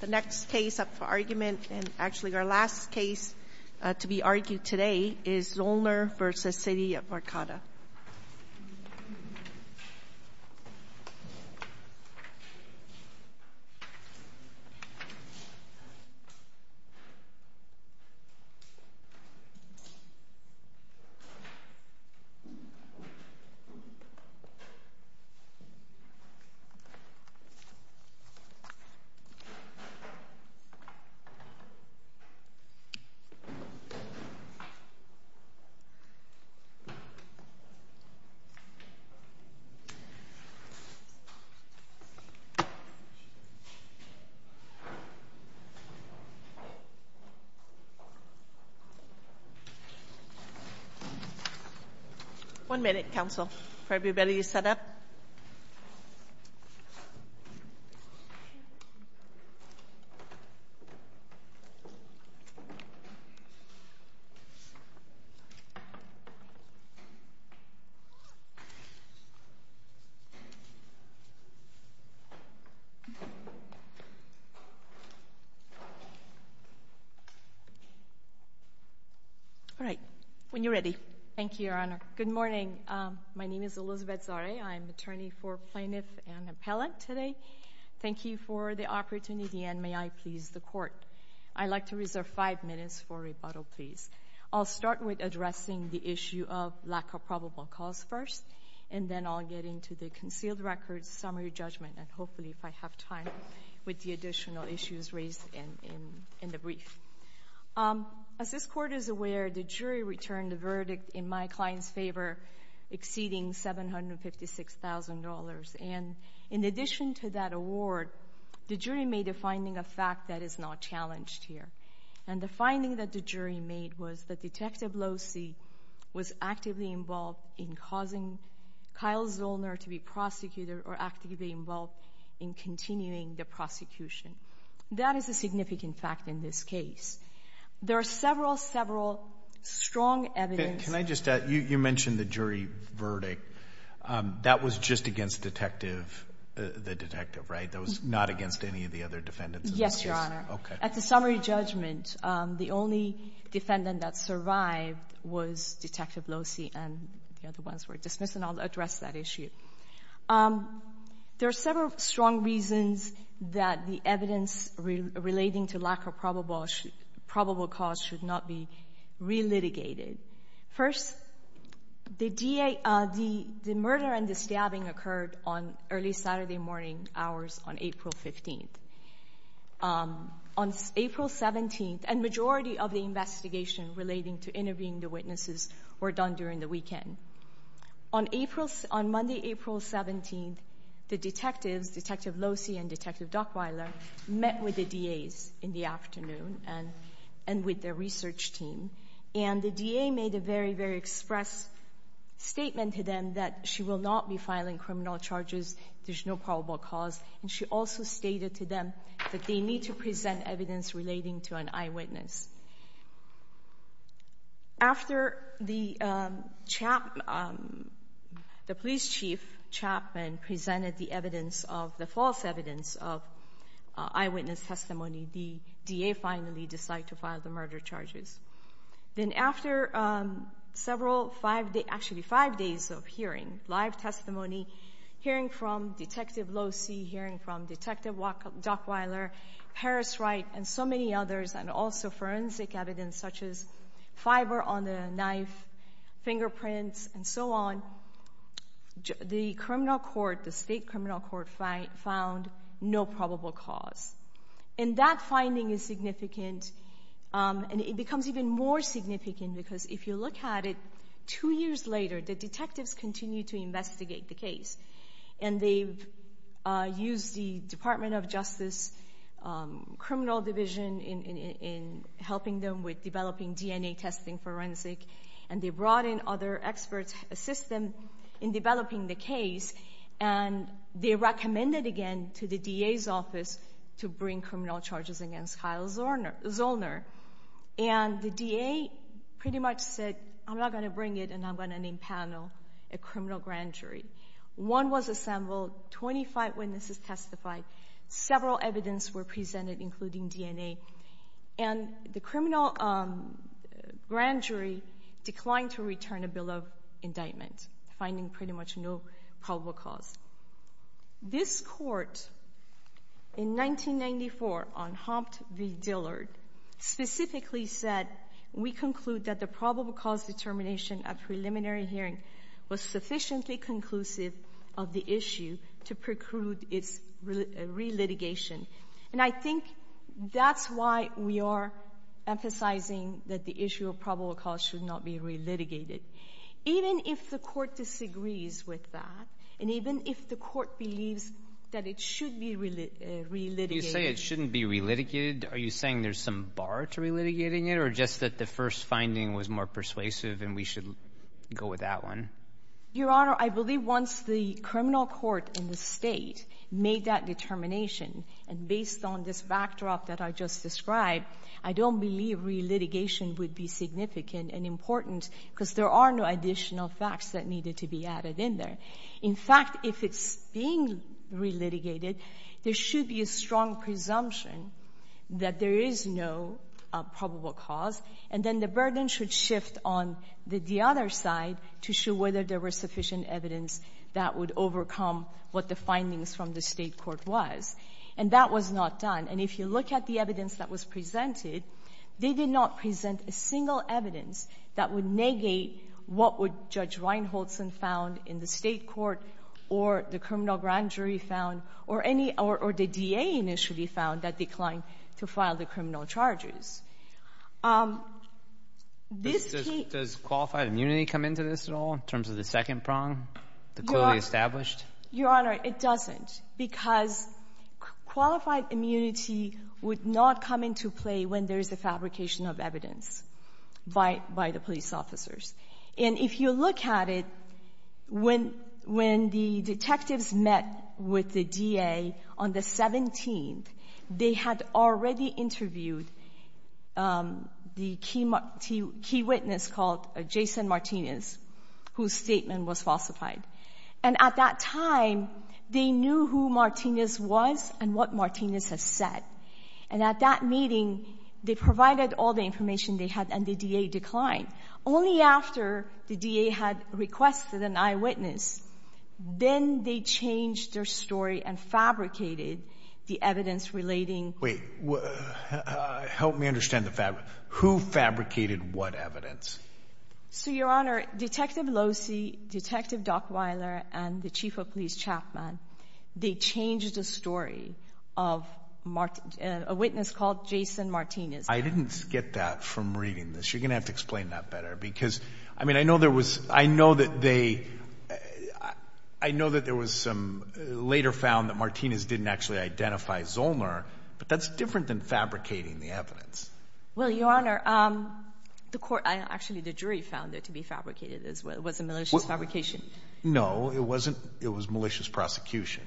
The next case up for argument and actually our last case to be argued today is Zoellner v. City of Arcata Zoellner v. City of Arcata Zoellner v. City of Arcata Thank you for the opportunity and may I please the Court. I'd like to reserve five minutes for rebuttal please. I'll start with addressing the issue of lack of probable cause first and then I'll get into the concealed records summary judgment and hopefully if I have time with the additional issues raised in the brief. As this Court is aware, the jury returned the verdict in my client's favor exceeding $756,000 and in addition to that award, the jury made a finding of fact that is not challenged here. And the finding that the jury made was that Detective Locey was actively involved in causing Kyle Zoellner to be prosecuted or actively involved in continuing the prosecution. That is a significant fact in this case. There are several, several strong evidence Can I just add, you mentioned the jury verdict. That was just against Detective, the detective, right? That was not against any of the other defendants? Yes, Your Honor. At the summary judgment, the only defendant that survived was Detective Locey and the other ones were dismissed and I'll address that issue. There are several strong reasons that the evidence relating to lack of probable cause should not be re-litigated. First, the DA, the murder and the stabbing occurred on early Saturday morning hours on April 15th. On April 17th, a majority of the investigation relating to interviewing the witnesses were done during the weekend. On April, on Monday, April 17th, the detectives, Detective Locey and Detective Dockweiler, met with the DAs in the afternoon and with their research team and the DA made a very, very express statement to them that she will not be filing criminal charges. There's no probable cause and she also stated to them that they need to present evidence relating to an eyewitness. After the police chief, Chapman, presented the evidence of the false evidence of eyewitness testimony, the DA finally decided to file the murder charges. Then after several, actually five days of hearing, live testimony, hearing from Detective Locey, hearing from Detective Dockweiler, Harris Wright and so many others and also forensic evidence such as fiber on the knife, fingerprints and so on, the criminal court, the state criminal court found no probable cause. And that finding is significant and it becomes even more significant because if you look at it, two years later the detectives continue to investigate the case. And they've used the Department of Justice criminal division in helping them with developing DNA testing forensic and they brought in other experts to assist them in developing the case and they recommended again to the DA's office to bring criminal charges against Kyle Zollner. And the DA pretty much said, I'm not going to bring it and I'm going to name panel a criminal grand jury. One was assembled, 25 witnesses testified, several evidence were presented including DNA and the criminal grand jury declined to return a bill of indictment, finding pretty much no probable cause. This court in 1994 on Humpt v. Dillard specifically said, we conclude that the probable cause determination of preliminary hearing was sufficiently conclusive of the issue to preclude its re-litigation. And I think that's why we are emphasizing that the issue of probable cause should not be re-litigated. Even if the court disagrees with that and even if the court believes that it should be re-litigated. You say it shouldn't be re-litigated. Are you saying there's some bar to re-litigating it or just that the first finding was more persuasive and we should go with that one? Your Honor, I believe once the criminal court in the state made that determination and based on this backdrop that I just described, I don't believe re-litigation would be significant and important because there are no additional facts that needed to be added in there. In fact, if it's being re-litigated, there should be a strong presumption that there is no probable cause. And then the burden should shift on the other side to show whether there was sufficient evidence that would overcome what the findings from the State court was. And that was not done. And if you look at the evidence that was presented, they did not present a single evidence that would negate what would Judge Reinholzen found in the State court or the criminal grand jury found or any or the D.A. initially found that declined to file the criminal charges. This case — Does qualified immunity come into this at all in terms of the second prong, the clearly established? Your Honor, it doesn't because qualified immunity would not come into play when there is a fabrication of evidence by the police officers. And if you look at it, when the detectives met with the D.A. on the 17th, they had already interviewed the key witness called Jason Martinez, whose statement was falsified. And at that time, they knew who Martinez was and what Martinez had said. And at that meeting, they provided all the information they had, and the D.A. declined. Only after the D.A. had requested an eyewitness, then they changed their story and fabricated the evidence relating — Wait. Help me understand the fabric. Who fabricated what evidence? So, Your Honor, Detective Locey, Detective Dockweiler, and the chief of police Chapman, they changed the story of a witness called Jason Martinez. I didn't get that from reading this. You're going to have to explain that better because, I mean, I know there was — I know that they — I know that there was some — later found that Martinez didn't actually identify Zollmer, but that's different than fabricating the evidence. Well, Your Honor, the court — actually, the jury found it to be fabricated as well. It wasn't malicious fabrication. No, it wasn't. It was malicious prosecution.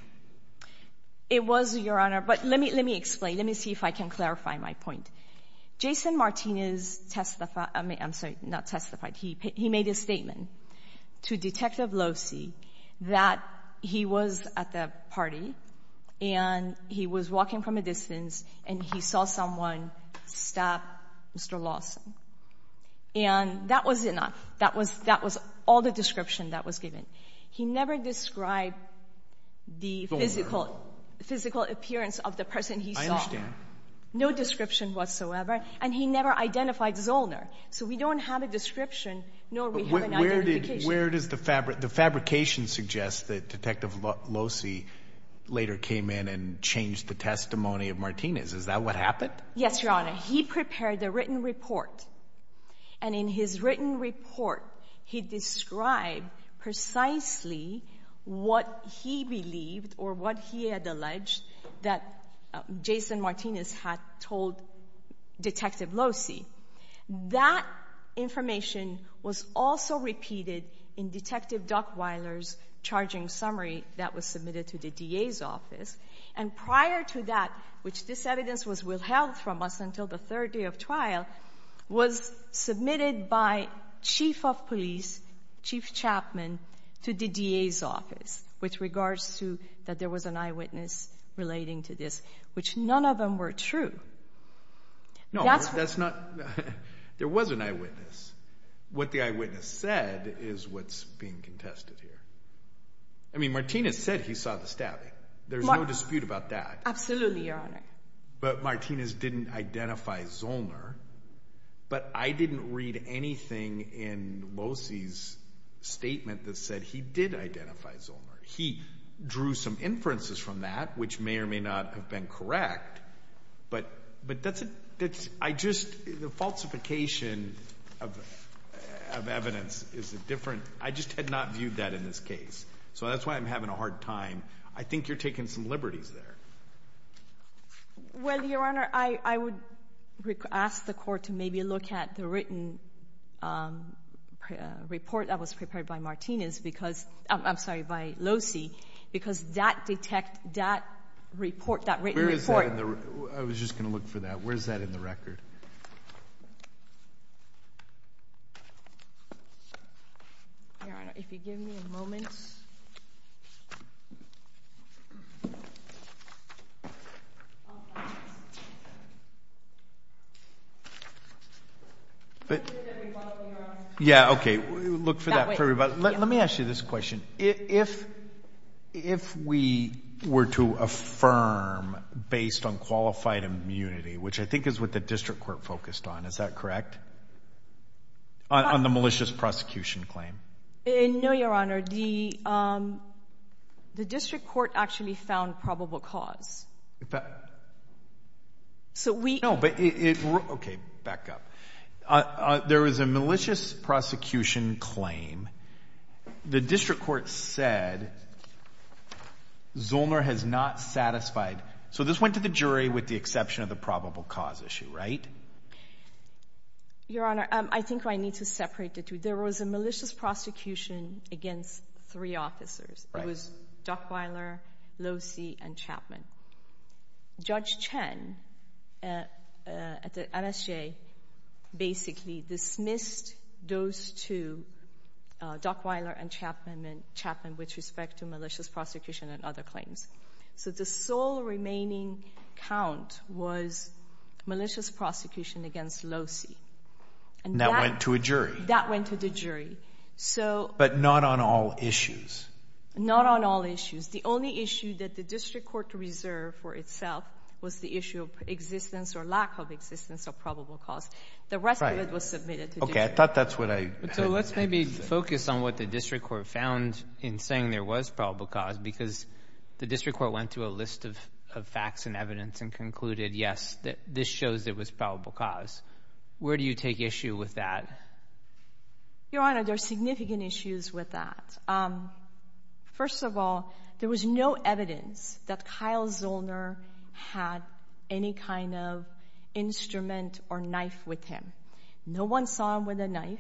It was, Your Honor, but let me explain. Let me see if I can clarify my point. Jason Martinez testified — I'm sorry, not testified. He made a statement to Detective Locey that he was at the party and he was walking from a distance and he saw someone stab Mr. Lawson. And that was enough. That was — that was all the description that was given. He never described the physical — Zollmer. — physical appearance of the person he saw. I understand. No description whatsoever. And he never identified Zollmer. So we don't have a description, nor do we have an identification. But where did — where does the fabrication suggest that Detective Locey later came in and changed the testimony of Martinez? Is that what happened? Yes, Your Honor. He prepared a written report. And in his written report, he described precisely what he believed or what he had alleged that Jason Martinez had told Detective Locey. That information was also repeated in Detective Duckweiler's charging summary that was submitted to the DA's office. And prior to that, which this evidence was withheld from us until the third day of trial, was submitted by chief of police, Chief Chapman, to the DA's office with regards to that there was an eyewitness relating to this, which none of them were true. No, that's not — there was an eyewitness. What the eyewitness said is what's being contested here. I mean, Martinez said he saw the stabbing. There's no dispute about that. Absolutely, Your Honor. But Martinez didn't identify Zollner. But I didn't read anything in Locey's statement that said he did identify Zollner. He drew some inferences from that, which may or may not have been correct. But that's — I just — the falsification of evidence is a different — I just had not viewed that in this case. So that's why I'm having a hard time. I think you're taking some liberties there. Well, Your Honor, I would ask the Court to maybe look at the written report that was prepared by Martinez because — I'm sorry, by Locey, because that detect — that report, that written report — Where is that in the — I was just going to look for that. Where is that in the record? Your Honor, if you give me a moment. But — Yeah, OK. Look for that for everybody. Let me ask you this question. If we were to affirm based on qualified immunity, which I think is what the district court focused on, is that correct? On the malicious prosecution claim. No, Your Honor. The district court actually found probable cause. But — So we — No, but it — OK, back up. There was a malicious prosecution claim. The district court said Zollner has not satisfied — so this went to the jury with the exception of the probable cause issue, right? Your Honor, I think I need to separate the two. There was a malicious prosecution against three officers. Right. It was Duckweiler, Locey, and Chapman. Judge Chen at the NSJ basically dismissed those two, Duckweiler and Chapman, with respect to malicious prosecution and other claims. So the sole remaining count was malicious prosecution against Locey. And that went to a jury. That went to the jury. But not on all issues. Not on all issues. The only issue that the district court reserved for itself was the issue of existence or lack of existence of probable cause. The rest of it was submitted to the jury. OK, I thought that's what I — So let's maybe focus on what the district court found in saying there was probable cause, because the district court went through a list of facts and evidence and concluded, yes, this shows there was probable cause. Where do you take issue with that? Your Honor, there are significant issues with that. First of all, there was no evidence that Kyle Zollner had any kind of instrument or knife with him. No one saw him with a knife.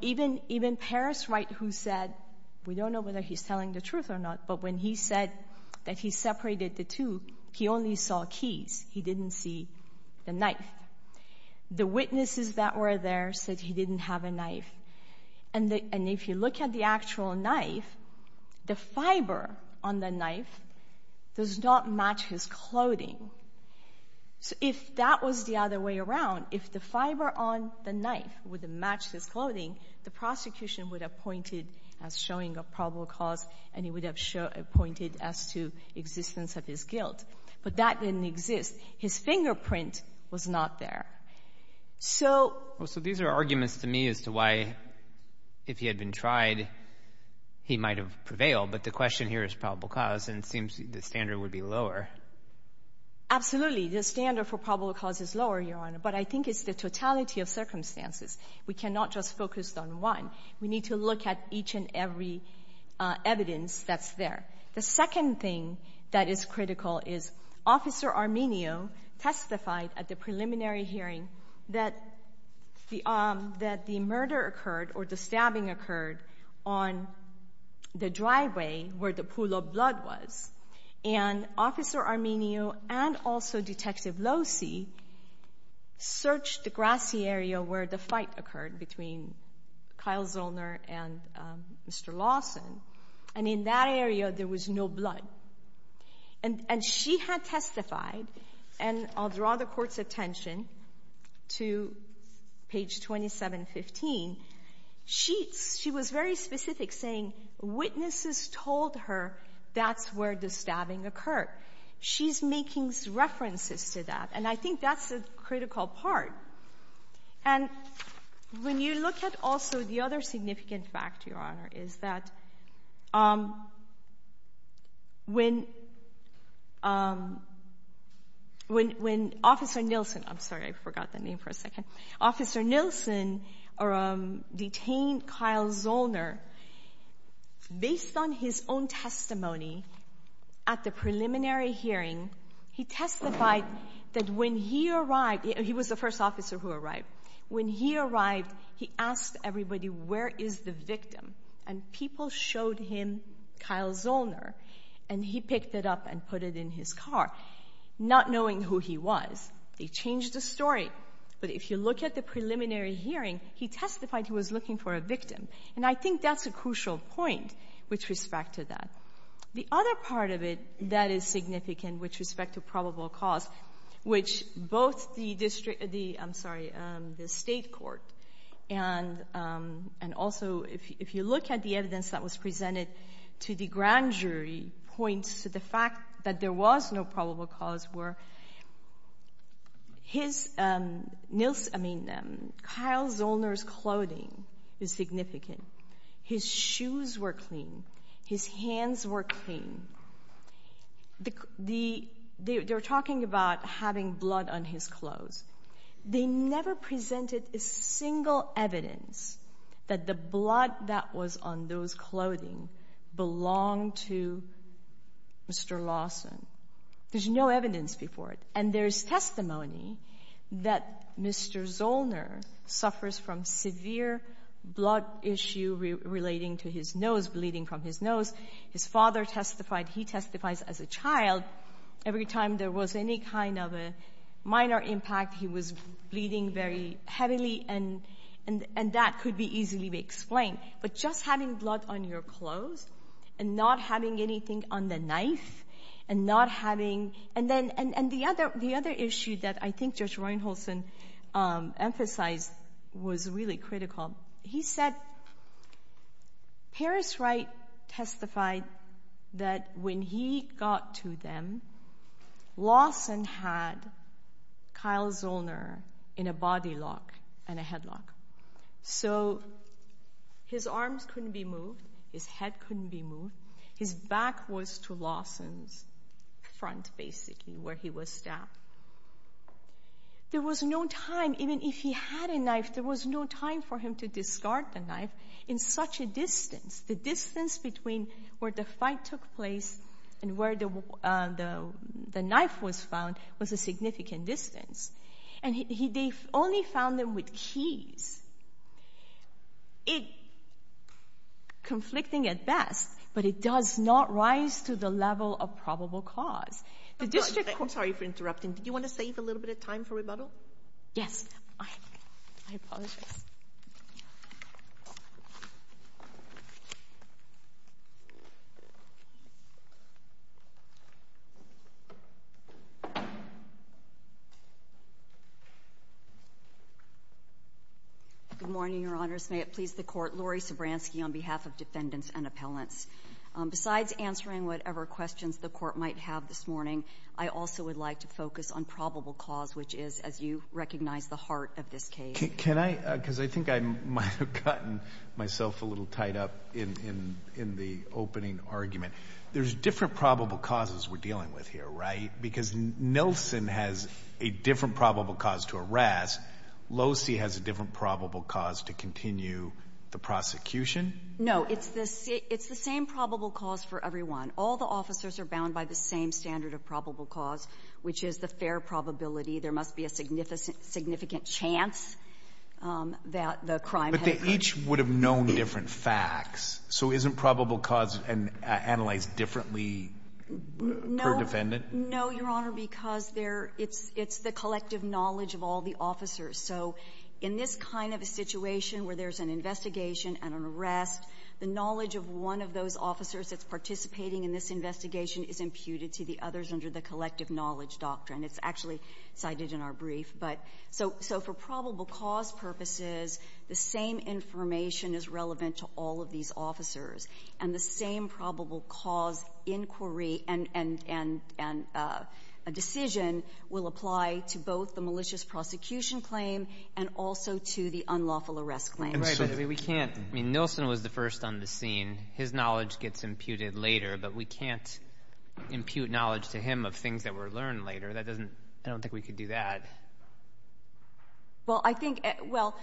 Even Parris Wright, who said — we don't know whether he's telling the truth or not, but when he said that he separated the two, he only saw keys. He didn't see the knife. The witnesses that were there said he didn't have a knife. And if you look at the actual knife, the fiber on the knife does not match his clothing. So if that was the other way around, if the fiber on the knife wouldn't match his clothing, the prosecution would have pointed as showing a probable cause, and it would have pointed as to existence of his guilt. But that didn't exist. His fingerprint was not there. So — Well, so these are arguments to me as to why, if he had been tried, he might have prevailed. But the question here is probable cause, and it seems the standard would be lower. Absolutely. The standard for probable cause is lower, Your Honor. But I think it's the totality of circumstances. We cannot just focus on one. We need to look at each and every evidence that's there. The second thing that is critical is Officer Arminio testified at the preliminary hearing that the murder occurred or the stabbing occurred on the driveway where the pool of blood was. And Officer Arminio and also Detective Losi searched the grassy area where the fight occurred between Kyle Zollner and Mr. Lawson. And in that area, there was no blood. And she had testified, and I'll draw the Court's attention to page 2715. She was very specific, saying witnesses told her that's where the stabbing occurred. She's making references to that, and I think that's a critical part. And when you look at also the other significant fact, Your Honor, is that when Officer Nilsen or detained Kyle Zollner, based on his own testimony at the preliminary hearing, he testified that when he arrived he was the first officer who arrived. When he arrived, he asked everybody, where is the victim? And people showed him Kyle Zollner, and he picked it up and put it in his car, not knowing who he was. They changed the story. But if you look at the preliminary hearing, he testified he was looking for a victim. And I think that's a crucial point with respect to that. The other part of it that is significant with respect to probable cause, which both the district, I'm sorry, the State Court, and also if you look at the evidence that was presented to the grand jury, points to the fact that there was no probable cause were his, Nilsen, I mean, Kyle Zollner's clothing is significant. His shoes were clean. His hands were clean. They were talking about having blood on his clothes. They never presented a single evidence that the blood that was on those clothing belonged to Mr. Lawson. There's no evidence before it. And there's testimony that Mr. Zollner suffers from severe blood issue relating to his nose, bleeding from his nose. His father testified. He testifies as a child. Every time there was any kind of a minor impact, he was bleeding very heavily, and that could be easily explained. But just having blood on your clothes and not having anything on the knife and not having, and the other issue that I think Judge Reinholson emphasized was really critical. He said Paris Wright testified that when he got to them, Lawson had Kyle Zollner in a body lock and a headlock. So his arms couldn't be moved. His head couldn't be moved. His back was to Lawson's front, basically, where he was stabbed. There was no time, even if he had a knife, there was no time for him to discard the knife in such a distance. The distance between where the fight took place and where the knife was found was a significant distance. And they only found them with keys, conflicting at best, but it does not rise to the level of probable cause. I'm sorry for interrupting. Did you want to save a little bit of time for rebuttal? Yes. I apologize. Good morning, Your Honors. May it please the Court. Laurie Sobranski on behalf of Defendants and Appellants. Besides answering whatever questions the Court might have this morning, I also would like to focus on probable cause, which is, as you recognize, the heart of this case. Can I? Because I think I might have gotten myself a little tied up in the opening argument. There's different probable causes we're dealing with here, right? Because Nelson has a different probable cause to arrest. Losey has a different probable cause to continue the prosecution. No, it's the same probable cause for everyone. All the officers are bound by the same standard of probable cause, which is the fair probability. There must be a significant chance that the crime had occurred. But they each would have known different facts. So isn't probable cause analyzed differently per defendant? No. No, Your Honor, because it's the collective knowledge of all the officers. So in this kind of a situation where there's an investigation and an arrest, the knowledge of one of those officers that's participating in this investigation is imputed to the others under the collective knowledge doctrine. It's actually cited in our brief. But so for probable cause purposes, the same information is relevant to all of these officers, and the same probable cause inquiry and decision will apply to both the malicious prosecution claim and also to the unlawful arrest claim. Right, but we can't. I mean, Nilsen was the first on the scene. His knowledge gets imputed later, but we can't impute knowledge to him of things that were learned later. That doesn't — I don't think we could do that. Well, I think — well,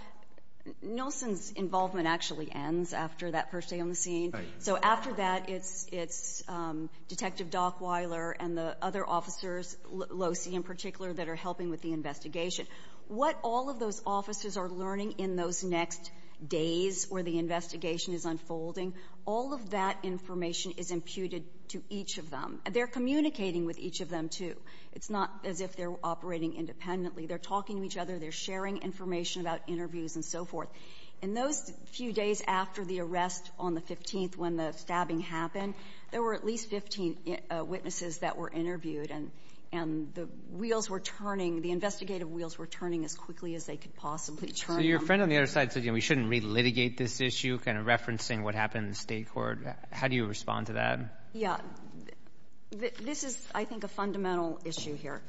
Nilsen's involvement actually ends after that first day on the scene. Right. So after that, it's Detective Dockweiler and the other officers, Losey in particular, that are helping with the investigation. What all of those officers are learning in those next days where the investigation is unfolding, all of that information is imputed to each of them. They're communicating with each of them, too. It's not as if they're operating independently. They're talking to each other. They're sharing information about interviews and so forth. In those few days after the arrest on the 15th when the stabbing happened, there were at least 15 witnesses that were interviewed, and the wheels were turning. The investigative wheels were turning as quickly as they could possibly turn. So your friend on the other side said, you know, we shouldn't re-litigate this issue, kind of referencing what happened in the State court. How do you respond to that? Yeah. This is, I think, a fundamental issue here.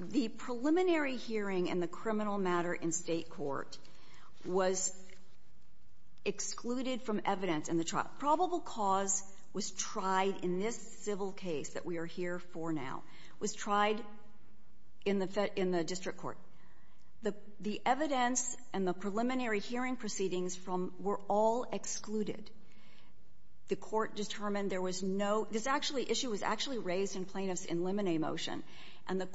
The preliminary hearing in the criminal matter in State court was excluded from evidence in the trial. Probable cause was tried in this civil case that we are here for now. It was tried in the district court. The evidence and the preliminary hearing proceedings were all excluded. The court determined there was no — this issue was actually raised in plaintiff's in limine motion, and the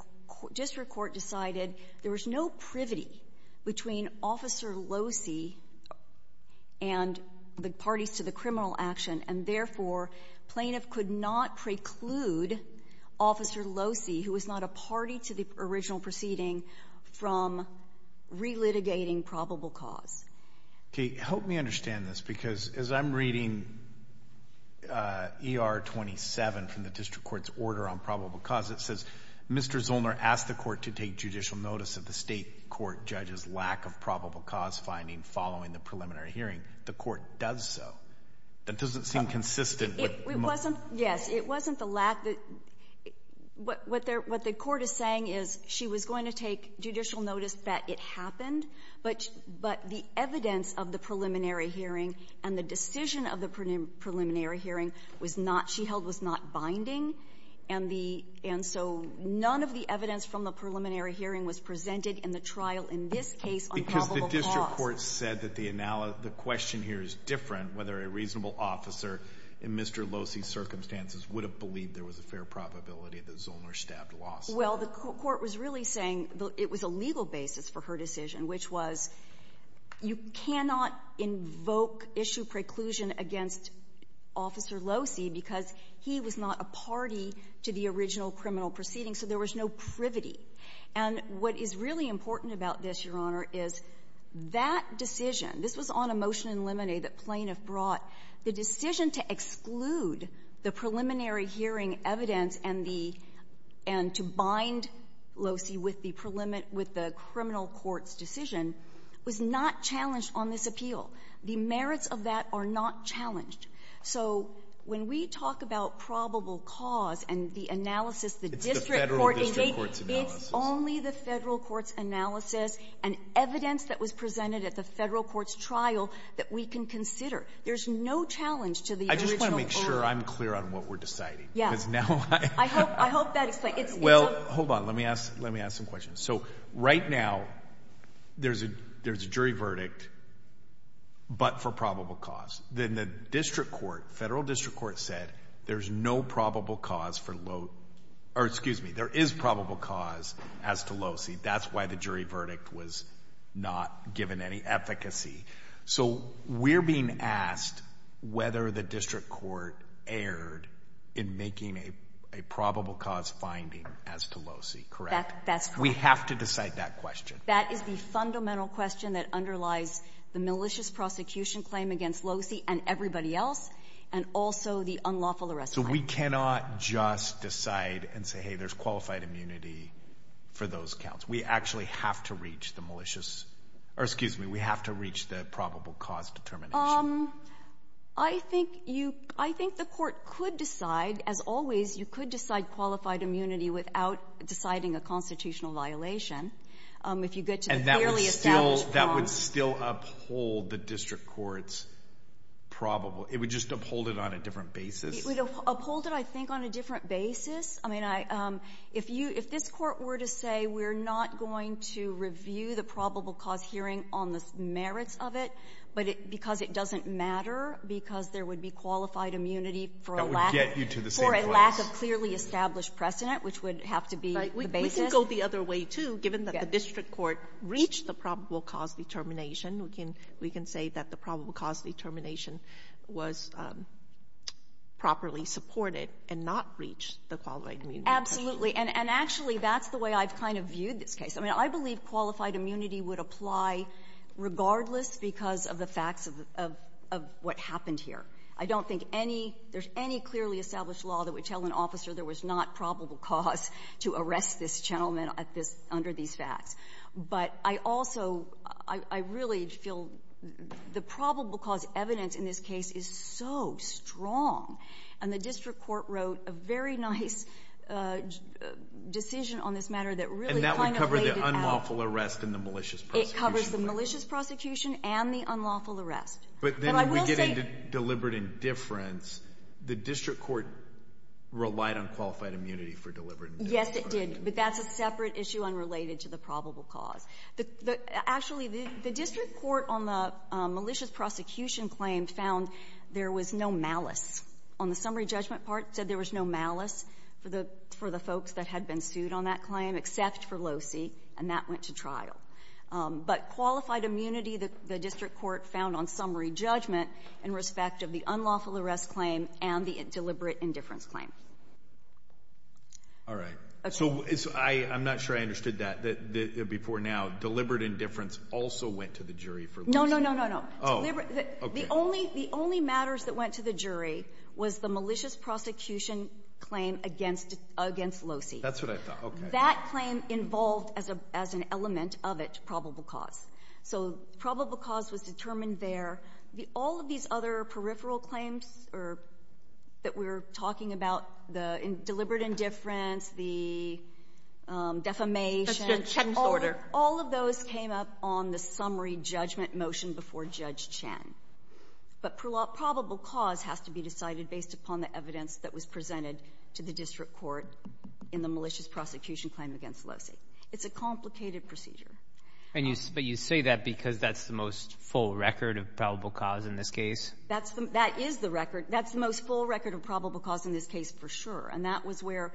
district court decided there was no privity between Officer Losi and the parties to the criminal action, and therefore, plaintiff could not preclude Officer Losi, who was not a party to the original proceeding, from re-litigating probable cause. Okay. Help me understand this, because as I'm reading ER 27 from the district court's order on probable cause, it says, Mr. Zollner asked the court to take judicial notice of the State court judge's lack of probable cause finding following the preliminary hearing. The court does so. That doesn't seem consistent with the motion. It wasn't. Yes. It wasn't the lack that — what the court is saying is she was going to take judicial notice that it happened, but the evidence of the preliminary hearing and the decision of the preliminary hearing was not — she held was not binding, and the — and so none of the evidence from the preliminary hearing was presented in the trial in this case on probable cause. The court said that the question here is different whether a reasonable officer in Mr. Losi's circumstances would have believed there was a fair probability that Zollner stabbed Losi. Well, the court was really saying it was a legal basis for her decision, which was you cannot invoke issue preclusion against Officer Losi because he was not a party to the original criminal proceeding, so there was no privity. And what is really important about this, Your Honor, is that decision — this was on a motion in Limine that Plainiff brought. The decision to exclude the preliminary hearing evidence and the — and to bind Losi with the preliminary — with the criminal court's decision was not challenged on this appeal. The merits of that are not challenged. So when we talk about probable cause and the analysis — It's only the Federal court's analysis and evidence that was presented at the Federal court's trial that we can consider. There's no challenge to the original — I just want to make sure I'm clear on what we're deciding. Yes. Because now I — I hope that explains. Well, hold on. Let me ask — let me ask some questions. So right now there's a jury verdict but for probable cause. Then the district court, Federal district court said there's no probable cause for — or excuse me, there is probable cause as to Losi. That's why the jury verdict was not given any efficacy. So we're being asked whether the district court erred in making a probable cause finding as to Losi, correct? That's correct. We have to decide that question. That is the fundamental question that underlies the malicious prosecution claim against Losi and everybody else and also the unlawful arrest claim. So we cannot just decide and say, hey, there's qualified immunity for those counts. We actually have to reach the malicious — or excuse me, we have to reach the probable cause determination. I think you — I think the court could decide, as always, you could decide qualified immunity without deciding a constitutional violation if you get to the clearly established prongs. And that would still — that would still uphold the district court's probable — it would just uphold it on a different basis. It would uphold it, I think, on a different basis. I mean, I — if you — if this Court were to say we're not going to review the probable cause hearing on the merits of it, but it — because it doesn't matter, because there would be qualified immunity for a lack — That would get you to the same place. For a lack of clearly established precedent, which would have to be the basis. Right. We can go the other way, too, given that the district court reached the probable cause determination. We can — we can say that the probable cause determination was properly supported and not breached the qualified immunity precedent. Absolutely. And actually, that's the way I've kind of viewed this case. I mean, I believe qualified immunity would apply regardless because of the facts of — of what happened here. I don't think any — there's any clearly established law that would tell an officer there was not probable cause to arrest this gentleman at this — under these facts. But I also — I really feel the probable cause evidence in this case is so strong. And the district court wrote a very nice decision on this matter that really kind of laid it out. And that would cover the unlawful arrest and the malicious prosecution. It covers the malicious prosecution and the unlawful arrest. But then we get into deliberate indifference. The district court relied on qualified immunity for deliberate indifference. Yes, it did. But that's a separate issue unrelated to the probable cause. Actually, the district court on the malicious prosecution claim found there was no malice. On the summary judgment part, it said there was no malice for the — for the folks that had been sued on that claim except for Losey, and that went to trial. But qualified immunity, the district court found on summary judgment in respect of the unlawful arrest claim and the deliberate indifference claim. All right. So I'm not sure I understood that before now. Deliberate indifference also went to the jury for Losey? No, no, no, no, no. Oh, okay. The only — the only matters that went to the jury was the malicious prosecution claim against Losey. That's what I thought. Okay. That claim involved as an element of it probable cause. So probable cause was determined there. All of these other peripheral claims that we're talking about, the deliberate indifference, the defamation — That's the Chen's order. All of those came up on the summary judgment motion before Judge Chen. But probable cause has to be decided based upon the evidence that was presented to the district court in the malicious prosecution claim against Losey. It's a complicated procedure. And you — but you say that because that's the most full record of probable cause in this case? That's the — that is the record. That's the most full record of probable cause in this case, for sure. And that was where,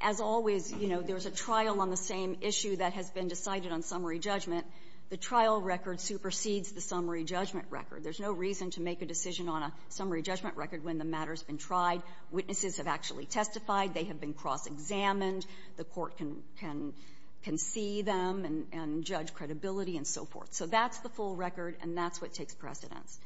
as always, you know, there's a trial on the same issue that has been decided on summary judgment. The trial record supersedes the summary judgment record. There's no reason to make a decision on a summary judgment record when the matter has been tried. Witnesses have actually testified. They have been cross-examined. The court can see them and judge credibility and so forth. So that's the full record, and that's what takes precedence.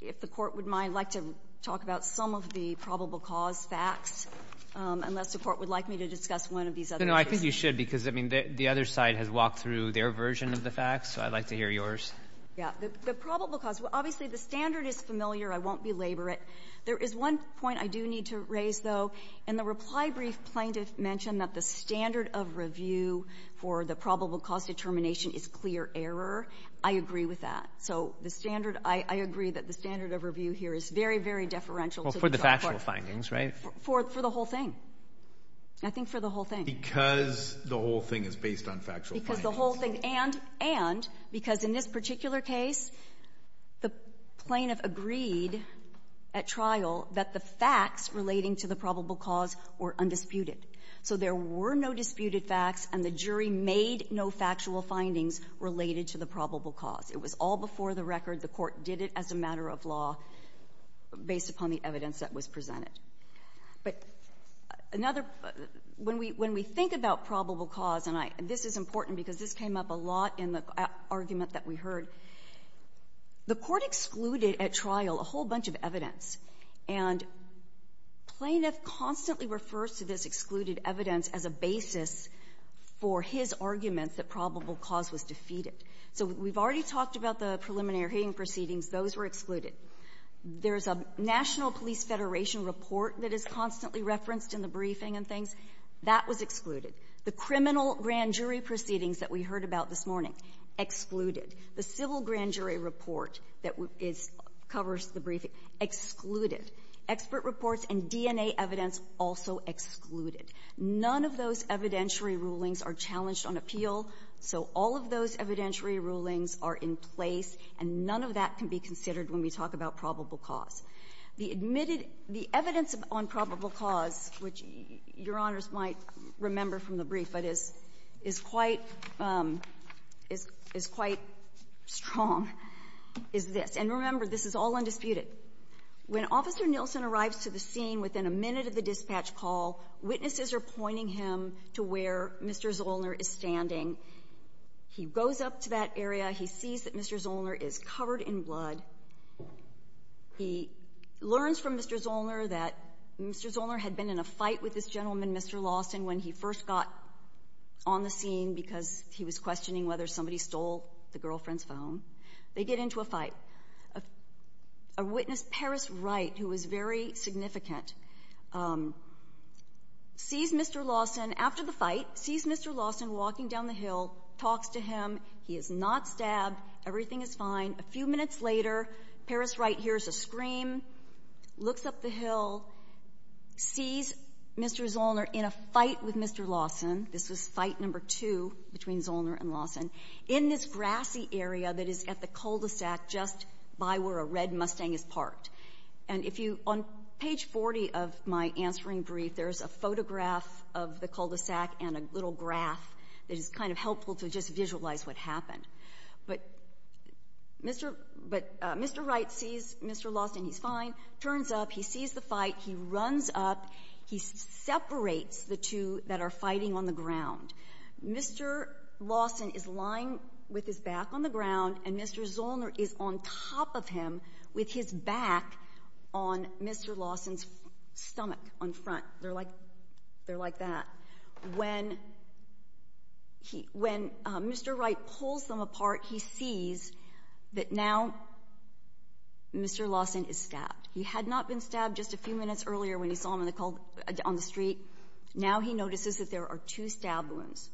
If the Court would mind, I'd like to talk about some of the probable cause facts, unless the Court would like me to discuss one of these other issues. No, I think you should, because, I mean, the other side has walked through their version of the facts, so I'd like to hear yours. Yeah. The probable cause. Obviously, the standard is familiar. I won't belabor There is one point I do need to raise, though. In the reply brief, plaintiff mentioned that the standard of review for the probable cause determination is clear error. I agree with that. So the standard, I agree that the standard of review here is very, very deferential to the drug court. Well, for the factual findings, right? For the whole thing. I think for the whole thing. Because the whole thing is based on factual findings. Because the whole thing. And, and, because in this particular case, the plaintiff agreed at trial that the facts relating to the probable cause were undisputed. So there were no disputed facts, and the jury made no factual findings related to the probable cause. It was all before the record. The Court did it as a matter of law, based upon the evidence that was presented. But another, when we, when we think about probable cause, and I, this is important because this came up a lot in the argument that we heard, the Court excluded at trial a whole bunch of evidence. And plaintiff constantly refers to this excluded evidence as a basis for his arguments that probable cause was defeated. So we've already talked about the preliminary hearing proceedings. Those were excluded. There's a National Police Federation report that is constantly referenced in the briefing and things. That was excluded. The criminal grand jury proceedings that we heard about this morning, excluded. The civil grand jury report that is, covers the briefing, excluded. Expert reports and DNA evidence, also excluded. None of those evidentiary rulings are challenged on appeal. So all of those evidentiary rulings are in place, and none of that can be considered when we talk about probable cause. The admitted, the evidence on probable cause, which Your Honors might remember from the brief but is, is quite, is quite strong, is this. And remember, this is all undisputed. When Officer Nielsen arrives to the scene within a minute of the dispatch call, witnesses are pointing him to where Mr. Zollner is standing. He goes up to that area. He sees that Mr. Zollner is covered in blood. He learns from Mr. Zollner that Mr. Zollner had been in a fight with this gentleman, Mr. Lawson, when he first got on the scene because he was questioning whether somebody stole the girlfriend's phone. They get into a fight. A witness, Paris Wright, who was very significant, sees Mr. Lawson after the fight, sees Mr. Lawson walking down the hill, talks to him. He is not stabbed. Everything is fine. A few minutes later, Paris Wright hears a scream, looks up the hill, sees Mr. Zollner in a fight with Mr. Lawson. This was fight number two between Zollner and Lawson, in this grassy area that is at the cul-de-sac just by where a red Mustang is parked. And if you, on page 40 of my answering brief, there is a photograph of the cul-de-sac and a little graph that is kind of helpful to just visualize what happened. But Mr. Wright sees Mr. Lawson. He's fine. Turns up. He sees the fight. He runs up. He separates the two that are fighting on the ground. Mr. Lawson is lying with his back on the ground, and Mr. Zollner is on top of him with his back on Mr. Lawson's stomach on front. They're like that. When Mr. Wright pulls them apart, he sees that now Mr. Lawson is stabbed. He had not been stabbed just a few minutes earlier when he saw him on the street. Now he notices that there are two stab wounds.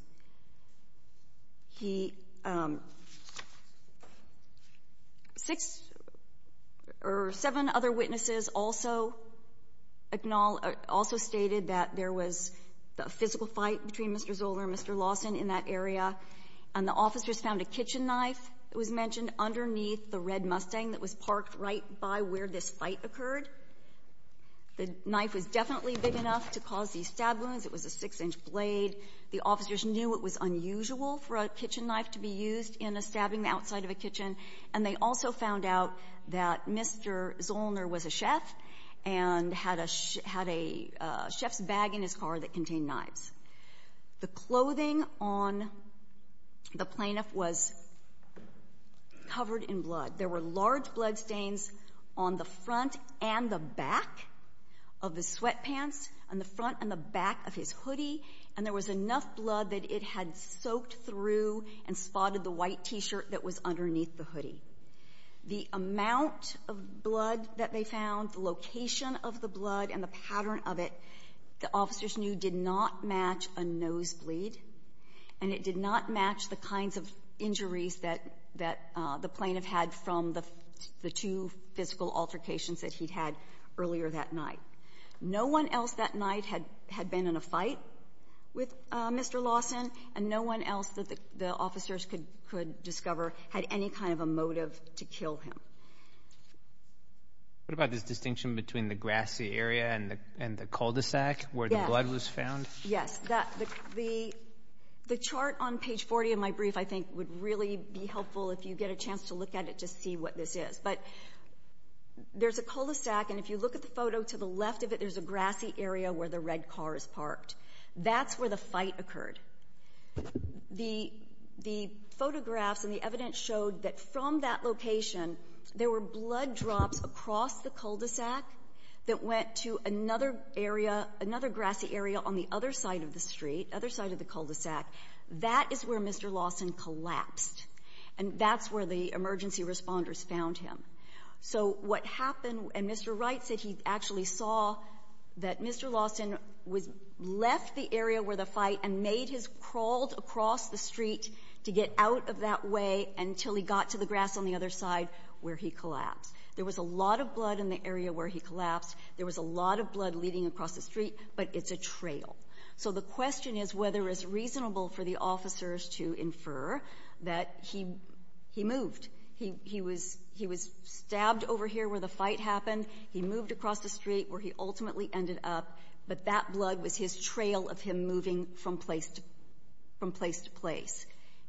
Seven other witnesses also stated that there was a physical fight between Mr. Zollner and Mr. Lawson in that area, and the officers found a kitchen knife that was mentioned underneath the red Mustang that was parked right by where this fight occurred. The knife was definitely big enough to cause these stab wounds. It was a six-inch blade. The officers knew it was unusual for a kitchen knife to be used in a stabbing outside of a kitchen, and they also found out that Mr. Zollner was a chef and had a chef's bag in his car that contained knives. The clothing on the plaintiff was covered in blood. There were large bloodstains on the front and the back of his sweatpants and the front and the back of his hoodie, and there was enough blood that it had soaked through and spotted the white T-shirt that was underneath the hoodie. The amount of blood that they found, the location of the blood and the pattern of it, the officers knew did not match a nosebleed, and it did not match the kinds of injuries that the plaintiff had from the two physical altercations that he'd had earlier that night. No one else that night had been in a fight with Mr. Lawson, and no one else that the officers could discover had any kind of a motive to kill him. What about this distinction between the grassy area and the cul-de-sac where the blood was found? Yes. The chart on page 40 of my brief, I think, would really be helpful if you get a chance to look at it to see what this is. There's a cul-de-sac, and if you look at the photo to the left of it, there's a grassy area where the red car is parked. That's where the fight occurred. The photographs and the evidence showed that from that location, there were blood drops across the cul-de-sac that went to another grassy area on the other side of the street, other side of the cul-de-sac. That is where Mr. Lawson collapsed, and that's where the emergency responders found him. So what happened, and Mr. Wright said he actually saw that Mr. Lawson left the area where the fight and made his crawl across the street to get out of that way until he got to the grass on the other side where he collapsed. There was a lot of blood in the area where he collapsed. There was a lot of blood leading across the street, but it's a trail. So the question is whether it's reasonable for the officers to infer that he moved. He was stabbed over here where the fight happened. He moved across the street where he ultimately ended up, but that blood was his trail of him moving from place to place,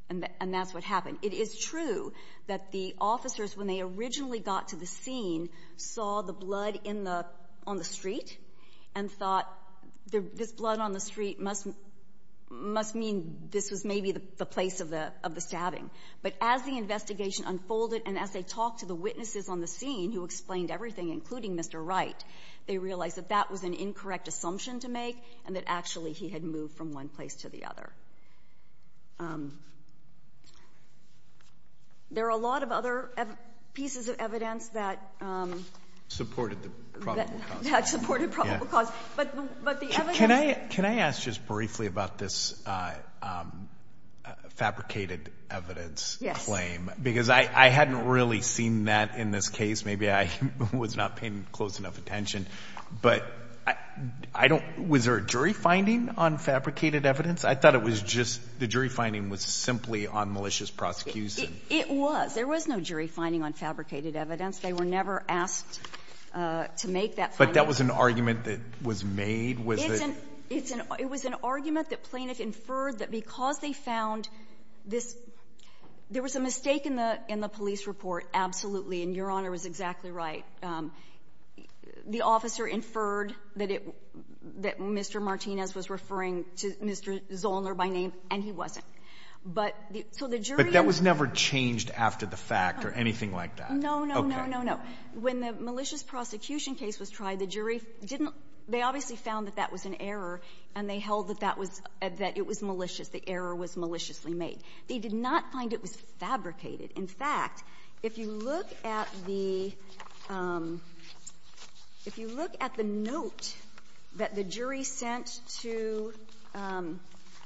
and that's what happened. It is true that the officers, when they originally got to the scene, saw the blood on the street and thought, this blood on the street must mean this was maybe the place of the stabbing. But as the investigation unfolded and as they talked to the witnesses on the scene who explained everything, including Mr. Wright, they realized that that was an incorrect assumption to make and that actually he had moved from one place to the other. There are a lot of other pieces of evidence that... Supported the probable cause. That supported probable cause. But the evidence... Can I ask just briefly about this fabricated evidence claim? Yes. Because I hadn't really seen that in this case. Maybe I was not paying close enough attention. But was there a jury finding on fabricated evidence? I thought it was just the jury finding was simply on malicious prosecution. It was. There was no jury finding on fabricated evidence. They were never asked to make that finding. But that was an argument that was made? It was an argument that Plainiff inferred that because they found this — there was a mistake in the police report, absolutely, and Your Honor was exactly right. The officer inferred that Mr. Martinez was referring to Mr. Zollner by name, and he wasn't. But the jury... But that was never changed after the fact or anything like that? No, no, no, no, no, no. When the malicious prosecution case was tried, the jury didn't — they obviously found that that was an error, and they held that that was — that it was malicious. The error was maliciously made. They did not find it was fabricated. In fact, if you look at the — if you look at the note that the jury sent to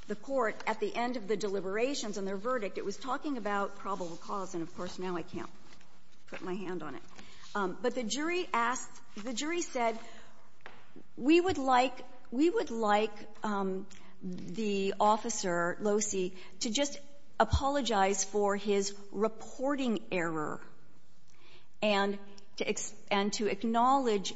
the court at the end of the deliberations on their verdict, it was talking about probable cause, and of course, now I can't put my hand on it. But the jury asked — the jury said, we would like — we would like the officer, Losi, to just apologize for his reporting error and to acknowledge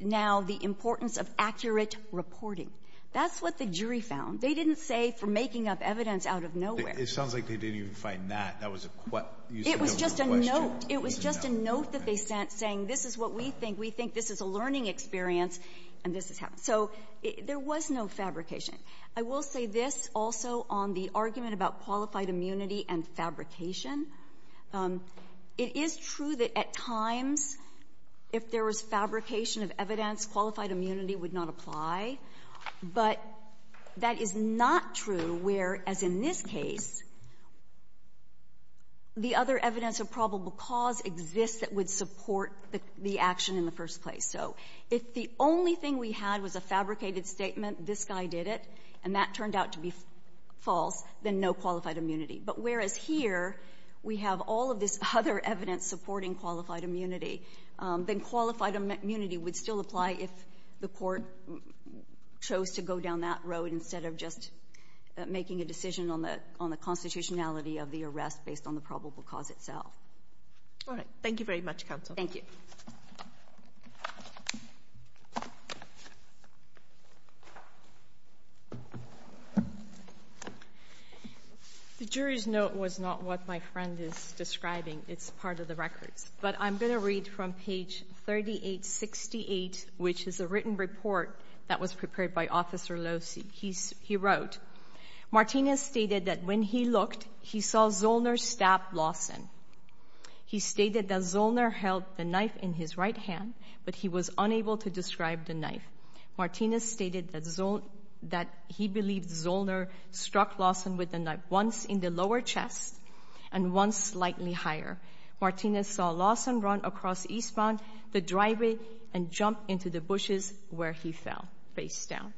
now the importance of accurate reporting. That's what the jury found. They didn't say for making up evidence out of nowhere. It sounds like they didn't even find that. That was a question. It was just a note. It was just a note that they sent saying, this is what we think. We think this is a learning experience, and this is how. So there was no fabrication. I will say this also on the argument about qualified immunity and fabrication. It is true that at times, if there was fabrication of evidence, qualified immunity would not apply, but that is not true where, as in this case, the other evidence of probable cause exists that would support the action in the first place. So if the only thing we had was a fabricated statement, this guy did it, and that turned out to be false, then no qualified immunity. But whereas here, we have all of this other evidence supporting qualified immunity, then qualified immunity would still apply if the court chose to go down that road instead of just making a decision on the constitutionality of the arrest based on the probable cause itself. All right. Thank you very much, counsel. Thank you. The jury's note was not what my friend is describing. It's part of the records. But I'm going to read from page 3868, which is a written report that was prepared by Officer Locey. He wrote, Martinez stated that when he looked, he saw Zollner stab Lawson. He stated that Zollner held the knife in his right hand, but he was unable to describe the knife. Martinez stated that he believed Zollner struck Lawson with the knife once in the lower chest and once slightly higher. Martinez saw Lawson run across Eastbound, the driveway, and jump into the bushes where he fell, face down.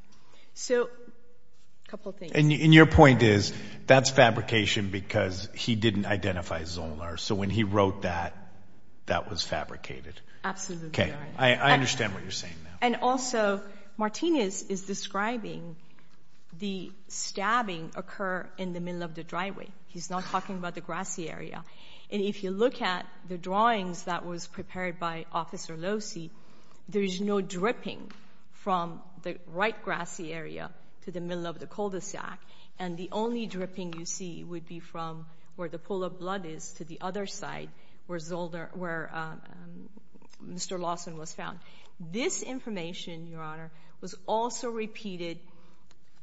So, a couple things. And your point is, that's fabrication because he didn't identify Zollner. So when he wrote that, that was fabricated. Absolutely right. I understand what you're saying now. And also, Martinez is describing the stabbing occur in the middle of the cul-de-sac. And if you look at the drawings that was prepared by Officer Locey, there's no dripping from the right grassy area to the middle of the cul-de-sac. And the only dripping you see would be from where the pool of blood is to the other side where Zollner, where Mr. Lawson was found. This information, Your Honor, was also repeated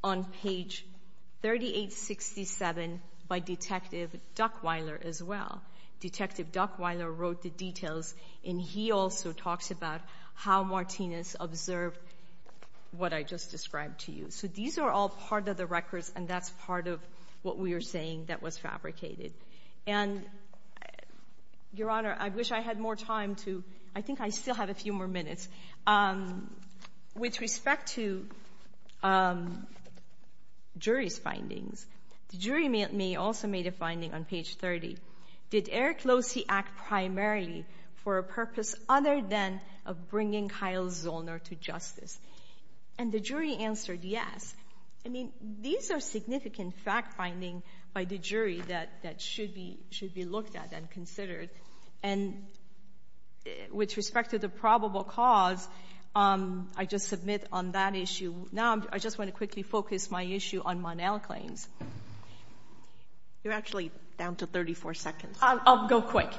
on page 3867 by Detective Duckweiler as well. Detective Duckweiler wrote the details and he also talks about how Martinez observed what I just described to you. So these are all part of the records and that's part of what we are saying that was fabricated. And, Your Honor, I wish I had more time to, I think I still have a few more minutes. With respect to jury's findings, the jury also made a finding on page 30. Did Eric Locey act primarily for a purpose other than of bringing Kyle Zollner to justice? And the jury answered yes. I mean, these are significant fact-finding by the jury that should be looked at and considered. And with respect to the probable cause, I just submit on that issue. Now, I just want to quickly focus my issue on Monel claims. You're actually down to 34 seconds. I'll go quick.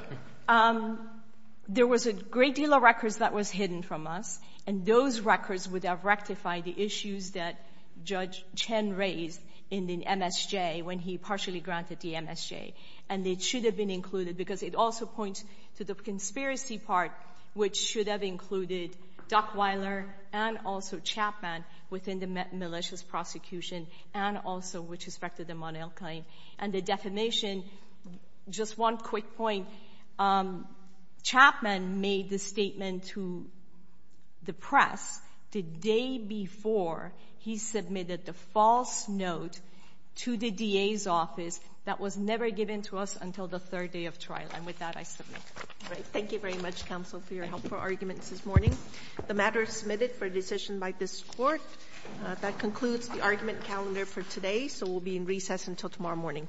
There was a great deal of records that was hidden from us and those records would have rectified the issues that Judge Chen raised in the MSJ when he partially granted the MSJ. And it should have been included because it also points to the conspiracy part, which should have included Duckweiler and also Chapman within the malicious prosecution and also with respect to the Monel claim. And the defamation, just one quick point, Chapman made the statement to the press the day before he submitted the false note to the DA's office that was never given to us until the third day of trial. And with that, I submit. Thank you very much, counsel, for your helpful arguments this morning. The matter is submitted for a decision by this court. That concludes the argument calendar for today. So we'll be in recess until tomorrow morning.